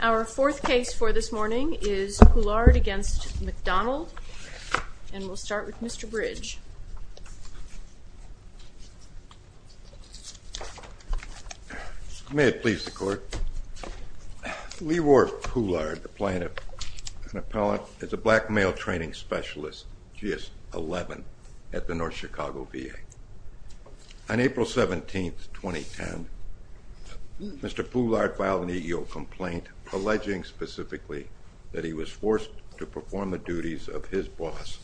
Our fourth case for this morning is Poullard v. McDonald, and we'll start with Mr. Bridge. May it please the court, Leroy Poullard, the plaintiff, an appellant, is a black male training specialist, GS-11, at the North Chicago VA. On April 17th, 2010, Mr. Poullard filed an EEO complaint alleging specifically that he was forced to perform the duties of his boss,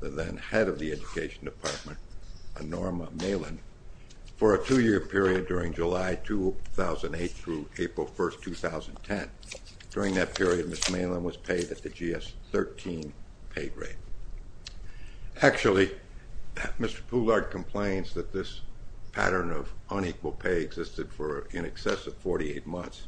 the then head of the education department, Norma Malin, for a two-year period during July 2008 through April 1st, 2010. During that period, Ms. Malin was paid at the GS-13 paid rate. Actually, Mr. Poullard complains that this pattern of unequal pay existed for in excess of 48 months.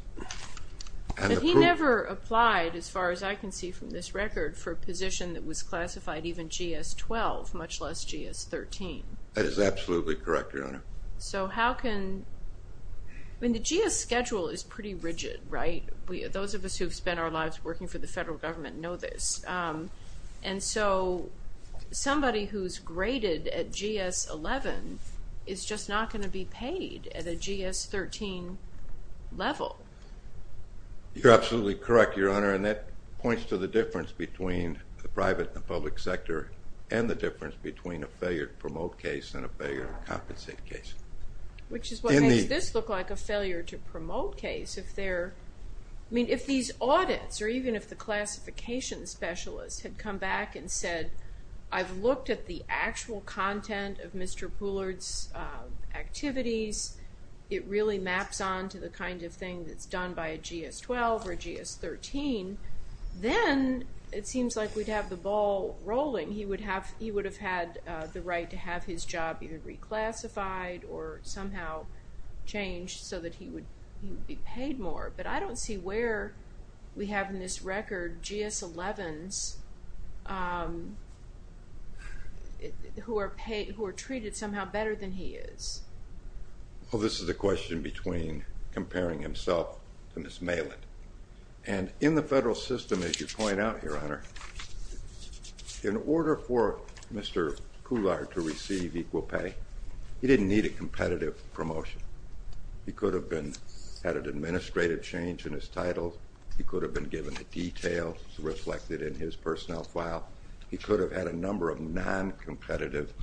But he never applied, as far as I can see from this record, for a position that was classified even GS-12, much less GS-13. That is absolutely correct, Your Honor. So how can, I mean the GS schedule is pretty rigid, right? Those of us who've spent our lives working for the federal government know this. And so somebody who's graded at GS-11 is just not going to be paid at a GS-13 level. You're absolutely correct, Your Honor, and that points to the difference between the private and public sector and the difference between a failure to promote case and a failure to compensate case. Which is what makes this look like a failure to promote case. I mean, if these audits, or even if the classification specialist had come back and said, I've looked at the actual content of Mr. Poullard's activities. It really maps on to the kind of thing that's done by a GS-12 or a GS-13. Then it seems like we'd have the ball rolling. He would have had the right to have his job either reclassified or somehow changed so that he would be paid more. But I don't see where we have in this record GS-11s who are treated somehow better than he is. Well, this is a question between comparing himself to Ms. Maland. And in the federal system, as you point out, Your Honor, in order for Mr. Poullard to receive equal pay, he didn't need a competitive promotion. He could have had an administrative change in his title. He could have been given a detail reflected in his personnel file. He could have had a number of non-competitive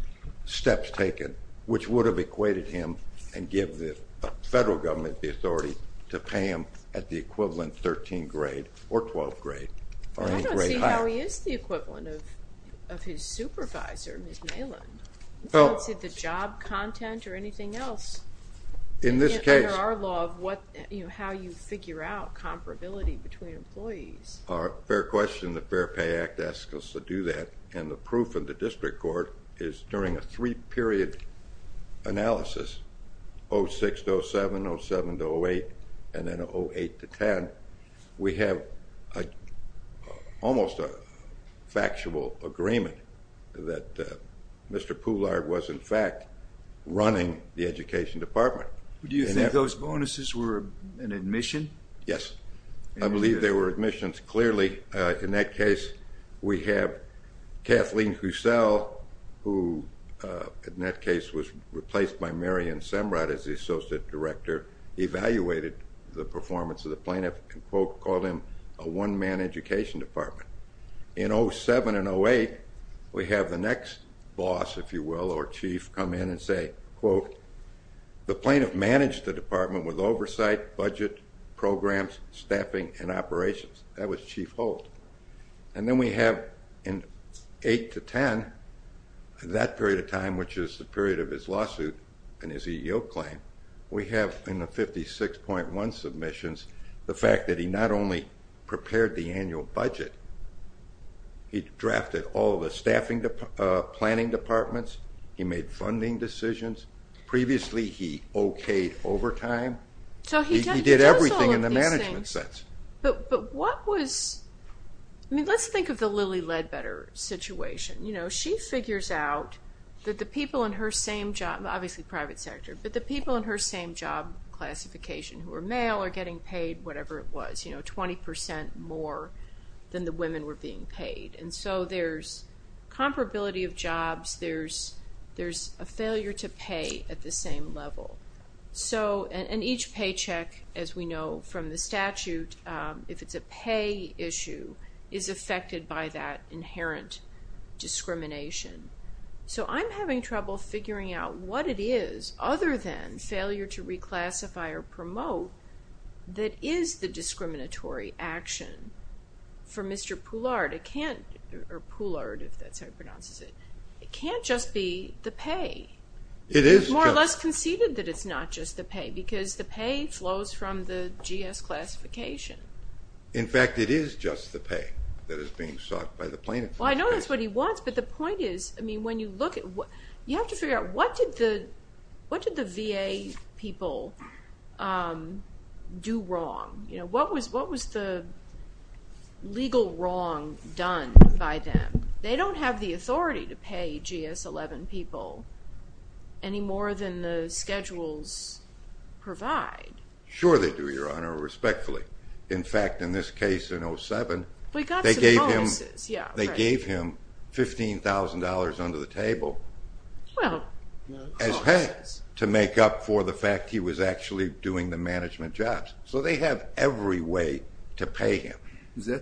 steps taken which would have equated him and give the federal government the authority to pay him at the equivalent 13th grade or 12th grade or any grade higher. I don't see how he is the equivalent of his supervisor, Ms. Maland. I don't see the job content or anything else under our law of how you figure out comparability between employees. Fair question. The Fair Pay Act asks us to do that. And the proof in the district court is during a three-period analysis, 06 to 07, 07 to 08, and then 08 to 10, we have almost a factual agreement that Mr. Poullard was in fact running the education department. Do you think those bonuses were an admission? Yes. I believe they were admissions. Clearly, in that case, we have Kathleen Hussel, who in that case was replaced by Mary Ann Semrat as the associate director, evaluated the performance of the plaintiff and, quote, called him a one-man education department. In 07 and 08, we have the next boss, if you will, or chief come in and say, quote, The plaintiff managed the department with oversight, budget, programs, staffing, and operations. That was chief Holt. And then we have in 08 to 10, that period of time, which is the period of his lawsuit and his EEO claim, we have in the 56.1 submissions the fact that he not only prepared the annual budget, he drafted all the staffing planning departments, he made funding decisions. Previously, he okayed overtime. He did everything in the management sense. But what was, I mean, let's think of the Lilly Ledbetter situation. You know, she figures out that the people in her same job, obviously private sector, but the people in her same job classification who are male are getting paid whatever it was, you know, 20% more than the women were being paid. And so there's comparability of jobs. There's a failure to pay at the same level. So, and each paycheck, as we know from the statute, if it's a pay issue, is affected by that inherent discrimination. So I'm having trouble figuring out what it is other than failure to reclassify or promote that is the discriminatory action for Mr. Poulard. It can't, or Poulard, if that's how he pronounces it, it can't just be the pay. It is just. It's more or less conceded that it's not just the pay, because the pay flows from the GS classification. In fact, it is just the pay that is being sought by the plaintiffs. Well, I know that's what he wants, but the point is, I mean, when you look at, you have to figure out what did the VA people do wrong? What was the legal wrong done by them? They don't have the authority to pay GS-11 people any more than the schedules provide. Sure they do, Your Honor, respectfully. In fact, in this case, in 07, they gave him $15,000 under the table as pay to make up for the fact he was actually doing the management jobs. So they have every way to pay him,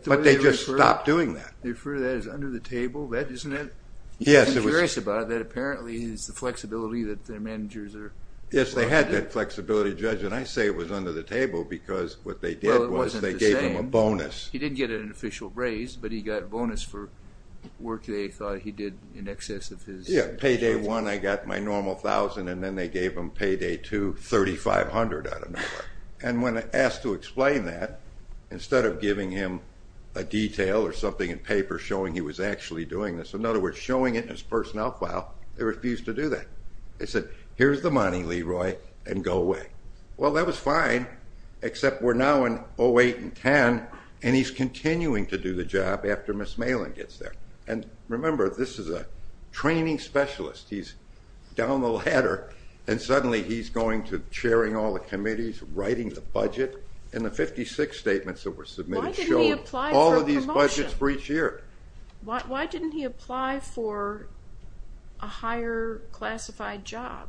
but they just stopped doing that. They refer to that as under the table, isn't it? Yes, it was. I'm curious about that. Apparently, it's the flexibility that the managers are provided. Yes, they had that flexibility, Judge, and I say it was under the table, because what they did was they gave him a bonus. Well, it wasn't the same. He didn't get an official raise, but he got a bonus for work they thought he did in excess of his. Yeah, pay day one, I got my normal $1,000, and then they gave him pay day two $3,500 out of nowhere. And when asked to explain that, instead of giving him a detail or something in paper showing he was actually doing this, in other words, showing it in his personnel file, they refused to do that. They said, here's the money, Leroy, and go away. Well, that was fine, except we're now in 08 and 10, and he's continuing to do the job after Ms. Malin gets there. And remember, this is a training specialist. He's down the ladder, and suddenly he's going to chairing all the committees, writing the budget, and the 56 statements that were submitted show all of these budgets for each year. Why didn't he apply for a higher classified job?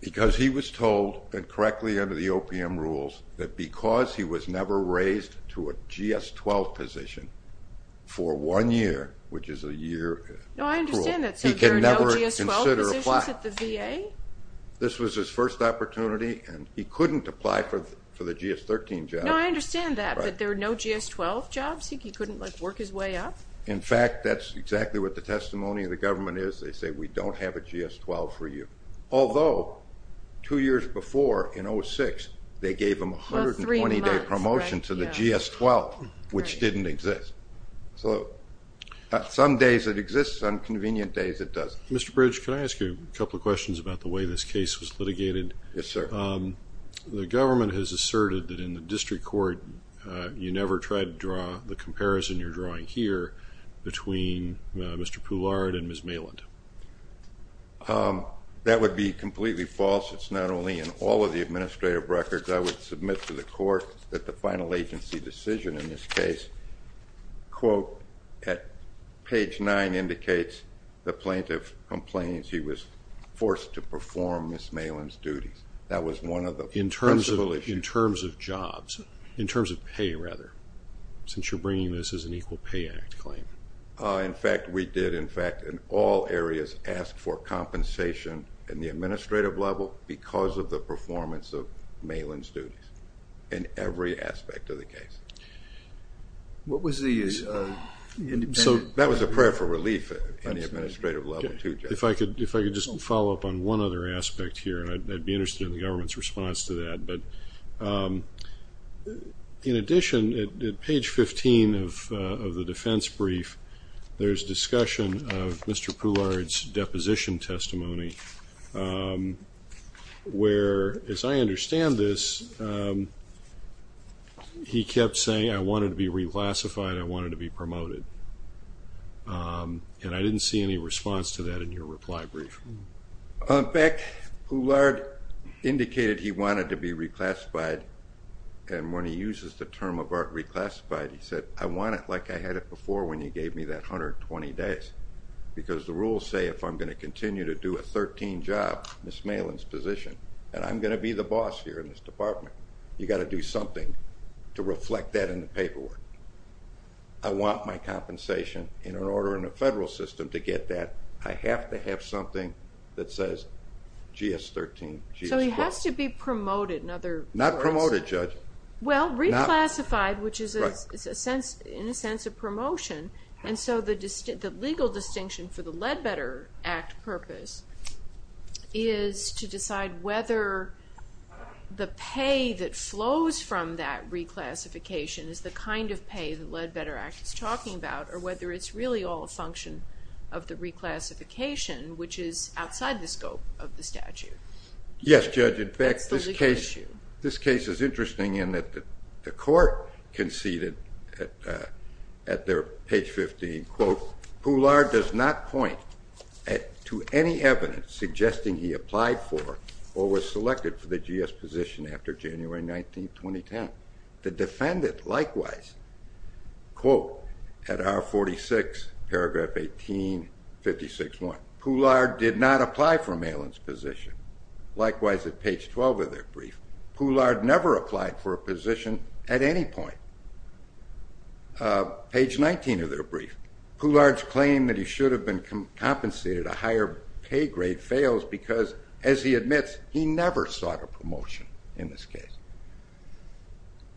Because he was told, and correctly under the OPM rules, that because he was never raised to a GS-12 position for one year, which is a year rule, he could never consider applying. So there are no GS-12 positions at the VA? This was his first opportunity, and he couldn't apply for the GS-13 job. No, I understand that, that there are no GS-12 jobs? He couldn't work his way up? In fact, that's exactly what the testimony of the government is. They say, we don't have a GS-12 for you. Although, two years before, in 06, they gave him a 120-day promotion to the GS-12, which didn't exist. So some days it exists, some convenient days it doesn't. Mr. Bridge, can I ask you a couple of questions about the way this case was litigated? Yes, sir. The government has asserted that in the district court you never tried to draw the comparison you're drawing here between Mr. Poulard and Ms. Maland. That would be completely false. It's not only in all of the administrative records. I would submit to the court that the final agency decision in this case quote, at page nine, indicates the plaintiff complains he was forced to perform Ms. Maland's duties. That was one of the principal issues. In terms of jobs, in terms of pay, rather, since you're bringing this as an Equal Pay Act claim. In fact, we did, in fact, in all areas, ask for compensation in the administrative level because of the performance of Maland's duties in every aspect of the case. What was the independent... That was a prayer for relief in the administrative level, too. If I could just follow up on one other aspect here, and I'd be interested in the government's response to that. In addition, at page 15 of the defense brief, there's discussion of Mr. Poulard's deposition testimony where, as I understand this, he kept saying, I wanted to be reclassified, I wanted to be promoted, and I didn't see any response to that in your reply brief. In fact, Poulard indicated he wanted to be reclassified and when he uses the term of art reclassified, he said, I want it like I had it before when you gave me that 120 days because the rules say if I'm going to continue to do a 13 job, Ms. Maland's position, and I'm going to be the boss here in this department, you've got to do something to reflect that in the paperwork. I want my compensation in an order in the federal system to get that. I have to have something that says GS-13, GS-4. So he has to be promoted in other words? Not promoted, Judge. Well, reclassified, which is in a sense a promotion, and so the legal distinction for the Ledbetter Act purpose is to decide whether the pay that flows from that reclassification is the kind of pay that the Ledbetter Act is talking about or whether it's really all a function of the reclassification which is outside the scope of the statute. Yes, Judge. In fact, this case is interesting in that the court conceded at page 15, quote, Poulard does not point to any evidence suggesting he applied for or was selected for the GS position after January 19, 2010. The defendant likewise, quote, at R46 paragraph 18, 56.1, Poulard did not apply for Maland's position. Likewise at page 12 of their brief, Poulard never applied for a position at any point. Page 19 of their brief, Poulard's claim that he should have been compensated a higher pay grade fails because, as he admits, he never sought a promotion in this case.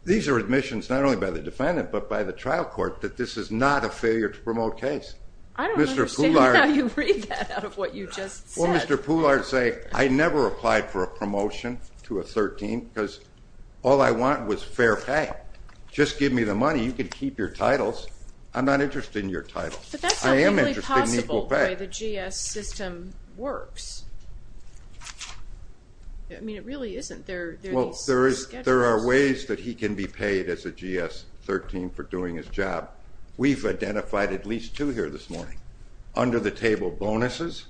These are admissions not only by the defendant but by the trial court that this is not a failure to promote case. I don't understand how you read that out of what you just said. Well, Mr. Poulard say, I never applied for a promotion to a 13 because all I want was fair pay. Just give me the money. You can keep your titles. I'm not interested in your titles. But that's not really possible the way the GS system works. I mean, it really isn't. There are ways that he can be paid as a GS 13 for doing his job. We've identified at least two here this morning. Under the table bonuses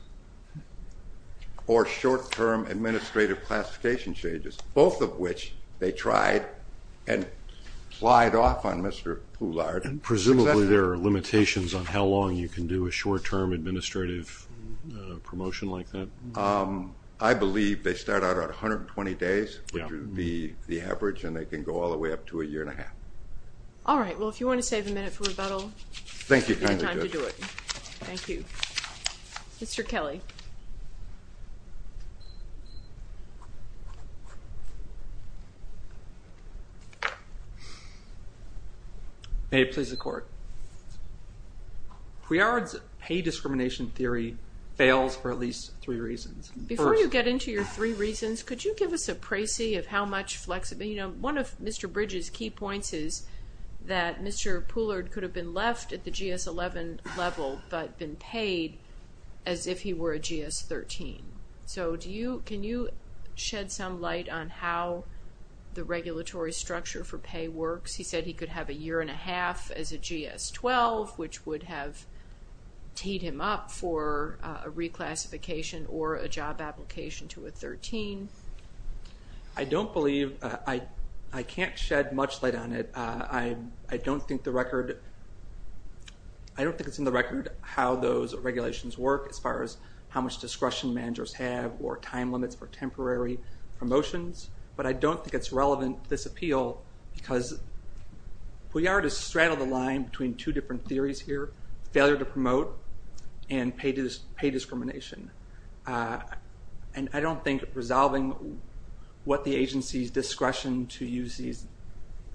or short-term administrative classification changes. Both of which they tried and plied off on Mr. Poulard. Presumably there are limitations on how long you can do a short-term administrative promotion like that? I believe they start out at 120 days which would be the average and they can go all the way up to a year and a half. All right. Well, if you want to save a minute for rebuttal, you have time to do it. Thank you. Mr. Kelly. May it please the Court. Couillard's pay discrimination theory fails for at least three reasons. Before you get into your three reasons, could you give us a pricey of how much flexibility One of Mr. Bridge's key points is that Mr. Poulard could have been left at the GS 11 level but been paid as if he were a GS 13. So can you shed some light on how the regulatory structure for pay works? He said he could have a year and a half as a GS 12 which would have teed him up for a reclassification or a job application to a 13. I don't believe, I can't shed much light on it. I don't think the record I don't think it's in the record how those regulations work as far as how much discretion managers have or time limits for temporary promotions but I don't think it's relevant to this appeal because Couillard has straddled the line between two different theories here, failure to promote and pay discrimination. And I don't think resolving what the agency's discretion to use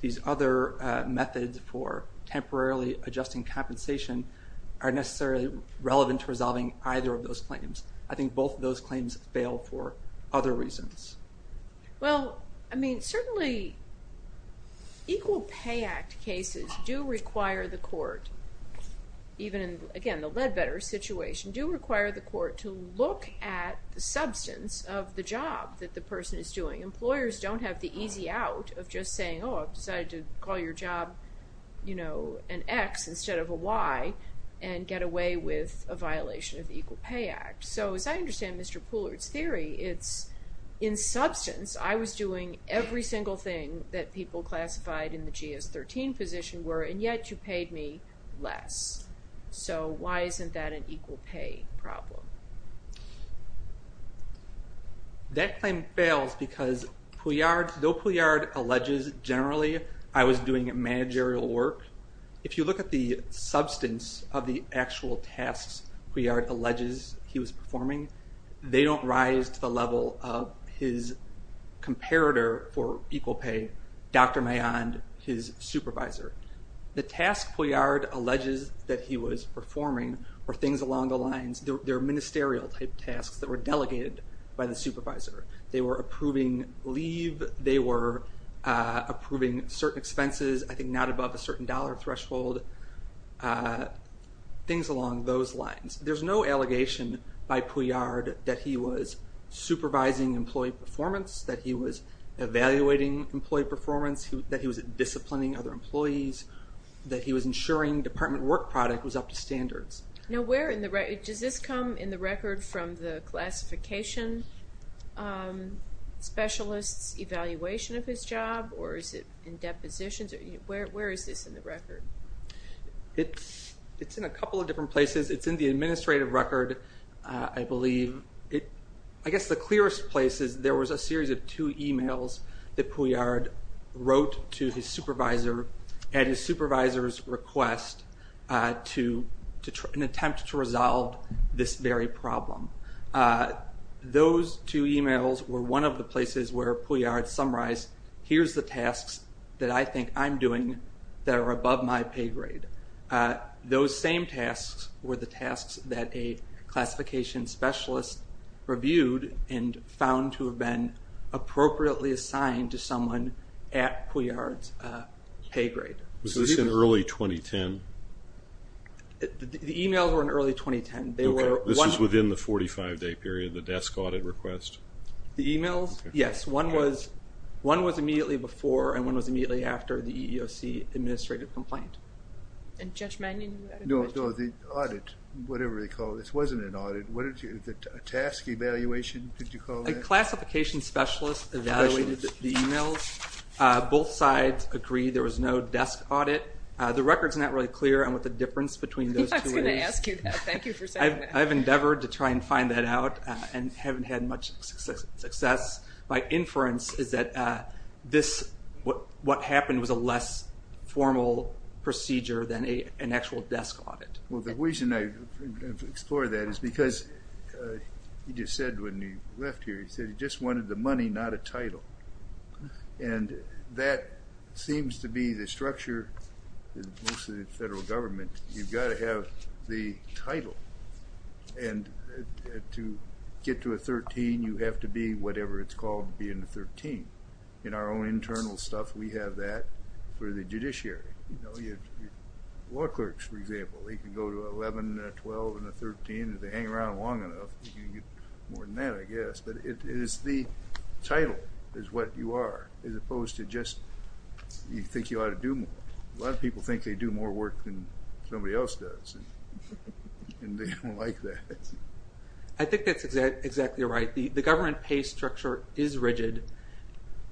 these other methods for temporarily adjusting compensation are necessarily relevant to resolving either of those claims. I think both of those claims fail for other reasons. Well, I mean, certainly Equal Pay Act cases do require the court even in, again, the Leadbetter situation do require the court to look at the substance of the job that the person is doing. Employers don't have the easy out of just saying oh, I've decided to call your job an X instead of a Y and get away with a violation of the Equal Pay Act. So as I understand Mr. Poullard's theory, it's in substance I was doing every single thing that people classified in the GS-13 position were and yet you paid me less. So why isn't that an equal pay problem? That claim fails because though Couillard alleges generally I was doing managerial work, if you look at the substance of the actual tasks Couillard alleges he was performing, they don't rise to the level of his comparator for equal pay, Dr. Mayond, his supervisor. The tasks Couillard alleges that he was performing were things along the lines they were ministerial type tasks that were delegated by the supervisor. They were approving leave, they were approving certain expenses I think not above a certain dollar threshold things along those lines. There's no allegation by Couillard that he was supervising employee performance, that he was evaluating employee performance, that he was disciplining other employees, that he was ensuring department work product was up to standards. Now where in the does this come in the record from the classification specialists evaluation of his job or is it in depositions where is this in the record? It's in a couple of different places. It's in the administrative record I believe. I guess the clearest place is there was a series of two emails that Couillard wrote to his supervisor at his supervisor's request to an attempt to resolve this very problem. Those two emails were one of the places where Couillard summarized here's the tasks that I think I'm doing that are above my pay grade. Those same tasks were the tasks that a classification specialist reviewed and found to have been appropriately assigned to someone at Couillard's pay grade. Was this in early 2010? The emails were in early 2010. This is within the 45 day period, the desk audit request. The emails, yes, one was one was immediately before and one was immediately after the EEOC administrative complaint. And Judge Magnin? No, the audit, whatever they call this, wasn't an audit. The task evaluation did you call that? A classification specialist evaluated the emails. Both sides agreed there was no desk audit. The record's not really clear on what the difference between those two is. I was going to ask you that, thank you for saying that. I've endeavored to try and find that out and haven't had much success. My inference is that this, what happened was a less formal procedure than an actual desk audit. Well the reason I explore that is because you just said when you left here, you said you just wanted the money, not a title. And that seems to be the structure in most of the federal government. You've got to have the title and to get to a 13, you have to be whatever it's called to be in the 13. In our own internal stuff, we have that for the judiciary. Law clerks, for example, they can go to an 11, a 12, and a 13 and if they hang around long enough, you can get more than that I guess, but it is the title is what you are, as opposed to just you think you ought to do more. A lot of people think they do more work than somebody else does and they don't like that. I think that's exactly right. The government pay structure is rigid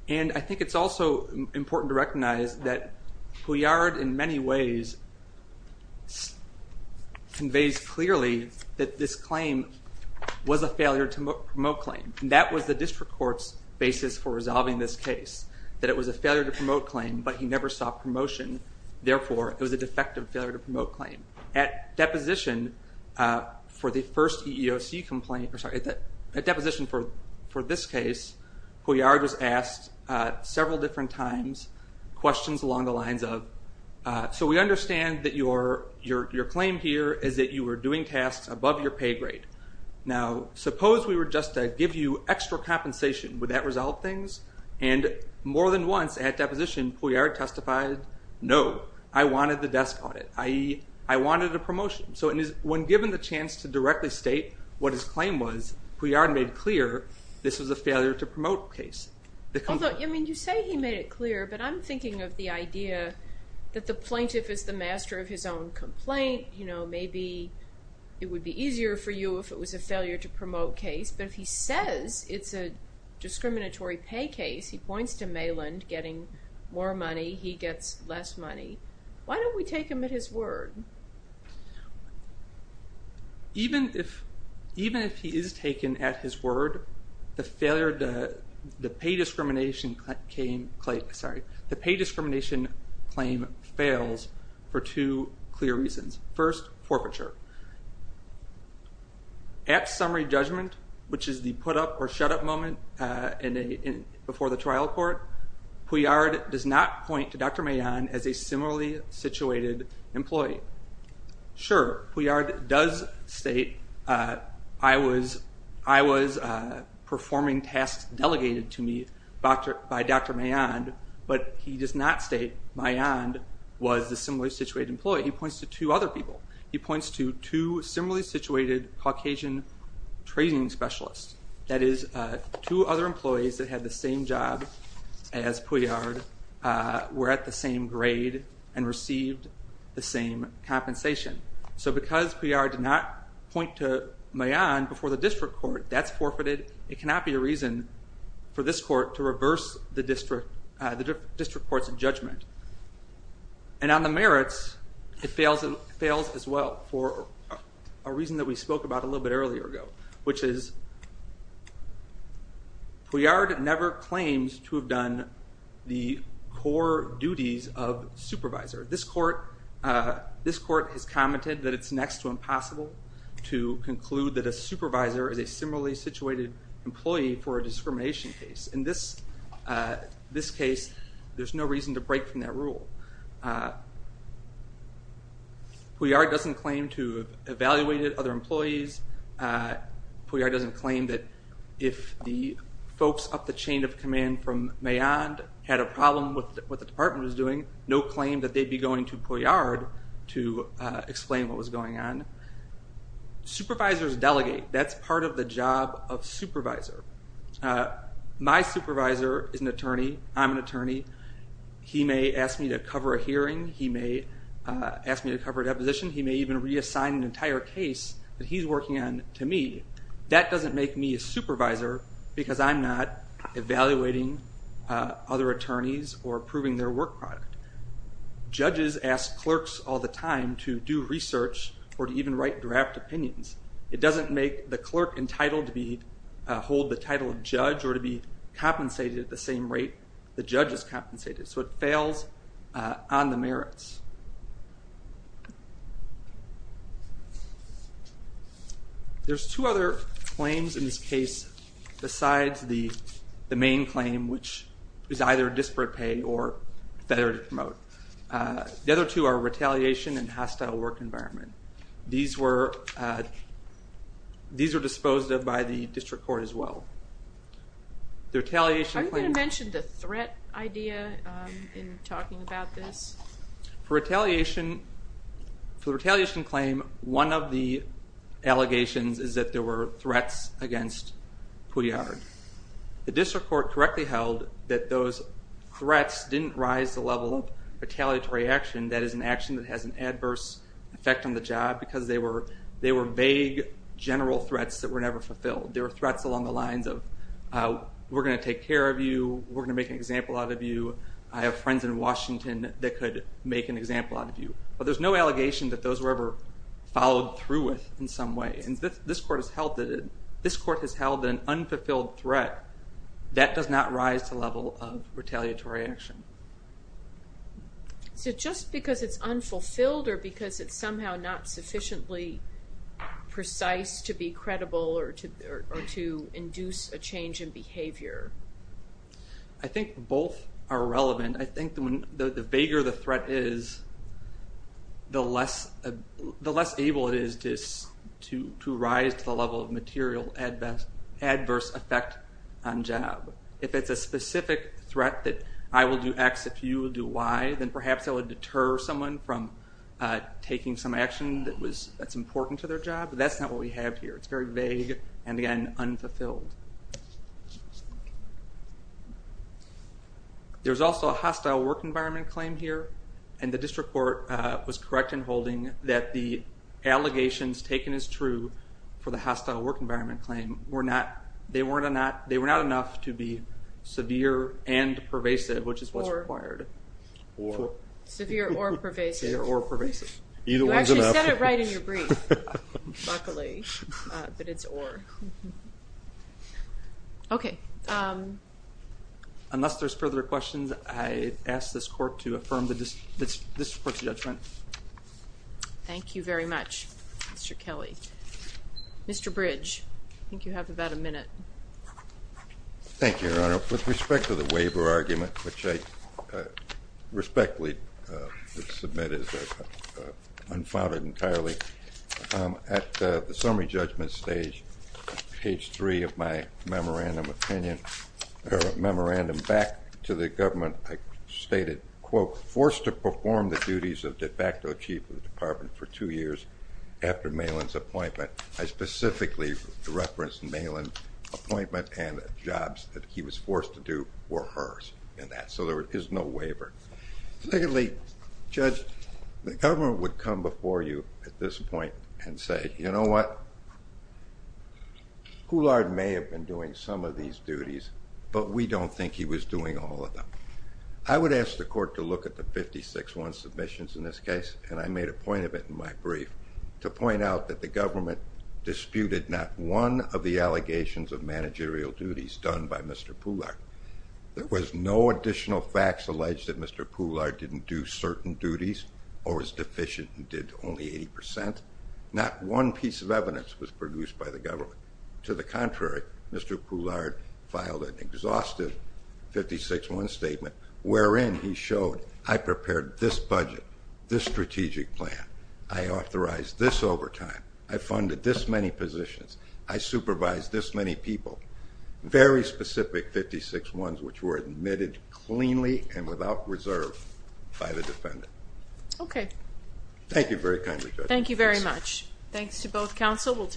and I think it's also important to recognize that Couillard in many ways conveys clearly that this claim was a failure to promote claim. That was the district court's basis for resolving this case. That it was a failure to promote claim but he never sought promotion, therefore it was a defective failure to promote claim. At deposition for the first EEOC complaint, at deposition for this case, Couillard was asked several different times questions along the lines of, so we understand that your claim here is that you were doing tasks above your pay grade. Now, suppose we were just to give you extra compensation, would that resolve things? And more than once at deposition, Couillard testified, no, I wanted the desk audit. I wanted a promotion. So when given the chance to directly state what his claim was, Couillard made clear this was a failure to promote case. Although, you say he made it clear, but I'm thinking of the idea that the plaintiff is the master of his own complaint, you know, maybe it would be easier for you if it was a failure to promote case but if he says it's a discriminatory pay case, he points to Maland getting more money, he gets less money. Why don't we take him at his word? Even if he is taken at his word, the failure, the pay discrimination claim fails for two clear reasons. First, forfeiture. At summary judgment, which is the put up or shut up moment before the trial court, Couillard does not point to Dr. Maland as a similarly situated employee. Sure, Couillard does state, I was performing tasks delegated to me by Dr. Maland, but he does not state Maland was a similarly situated employee. He points to two other people. He points to two similarly situated Caucasian trading specialists. That is, two other employees that had the same job as Couillard were at the same grade and received the same compensation. So because Couillard did not point to Maland before the district court, that's forfeited. It cannot be a reason for this court to reverse the district court's judgment. And on the merits, it fails as well for a reason that we spoke about a little bit earlier ago, which is Couillard never claims to have done the core duties of supervisor. This court has commented that it's next to impossible to sue an employee for a discrimination case. In this case, there's no reason to break from that rule. Couillard doesn't claim to have evaluated other employees. Couillard doesn't claim that if the folks up the chain of command from Maland had a problem with what the department was doing, no claim that they'd be going to Couillard to explain what was going on. Supervisors delegate. That's part of the job of supervisor. My supervisor is an attorney. I'm an attorney. He may ask me to cover a hearing. He may ask me to cover a deposition. He may even reassign an entire case that he's working on to me. That doesn't make me a supervisor because I'm not evaluating other attorneys or approving their work product. Judges ask clerks all the time to do research or to even write draft opinions. It doesn't make the clerk entitled to be hold the title of judge or to be compensated at the same rate the judge is compensated. So it fails on the merits. There's two other claims in this case besides the main claim which is either disparate pay or better to promote. The other two are retaliation and hostile work environment. These were disposed of by the district court as well. I'm going to mention the threat idea in talking about this. For the retaliation claim, one of the allegations is that there were threats against Couillard. The district court correctly held that those retaliatory action, that is an action that has an adverse effect on the job because they were vague general threats that were never fulfilled. There were threats along the lines of we're going to take care of you, we're going to make an example out of you, I have friends in Washington that could make an example out of you. But there's no allegation that those were ever followed through with in some way. This court has held that an unfulfilled threat, that does not rise to the level of Is it just because it's unfulfilled or because it's somehow not sufficiently precise to be credible or to induce a change in behavior? I think both are relevant. I think the vaguer the threat is, the less able it is to rise to the level of material adverse effect on job. If it's a specific threat that I will do X if you will do Y, then perhaps that would deter someone from taking some action that's important to their job, but that's not what we have here. It's very vague and again, unfulfilled. There's also a hostile work environment claim here and the district court was correct in holding that the allegations taken as true for the hostile work environment claim were not, they were not enough to be severe and pervasive, which is what's required. Severe or pervasive. Severe or pervasive. You actually said it right in your brief, luckily, but it's or. Unless there's further questions, I ask this court to affirm this court's judgment. Thank you very much Mr. Kelly. Mr. Bridge, I think you have about a minute. Thank you, Your Honor. With respect to the waiver argument, which I respectfully submit as unfounded entirely, at the summary judgment stage, page three of my memorandum back to the government, I stated, quote, forced to perform the duties of de facto chief of the department for two years after Malin's appointment. I specifically referenced Malin's appointment and the jobs that he was forced to do were hers in that, so there is no waiver. Clearly, Judge, the government would come before you at this point and say, you know what, Coulard may have been doing some of these duties but we don't think he was doing all of them. I would ask the court to look at the 56-1 submissions in this case, and I made a point of it in my brief, to point out that the government disputed not one of the allegations of managerial duties done by Mr. Coulard. There was no additional facts alleged that Mr. Coulard didn't do certain duties or was deficient and did only 80%. Not one piece of evidence was produced by the government. To the contrary, Mr. Coulard filed an exhaustive 56-1 statement wherein he showed, I prepared this budget, this strategic plan, I authorized this overtime, I funded this many positions, I supervised this many people. Very specific 56-1s which were admitted cleanly and without reserve by the defendant. Thank you very kindly, Judge. Thank you very much. Thanks to both counsel.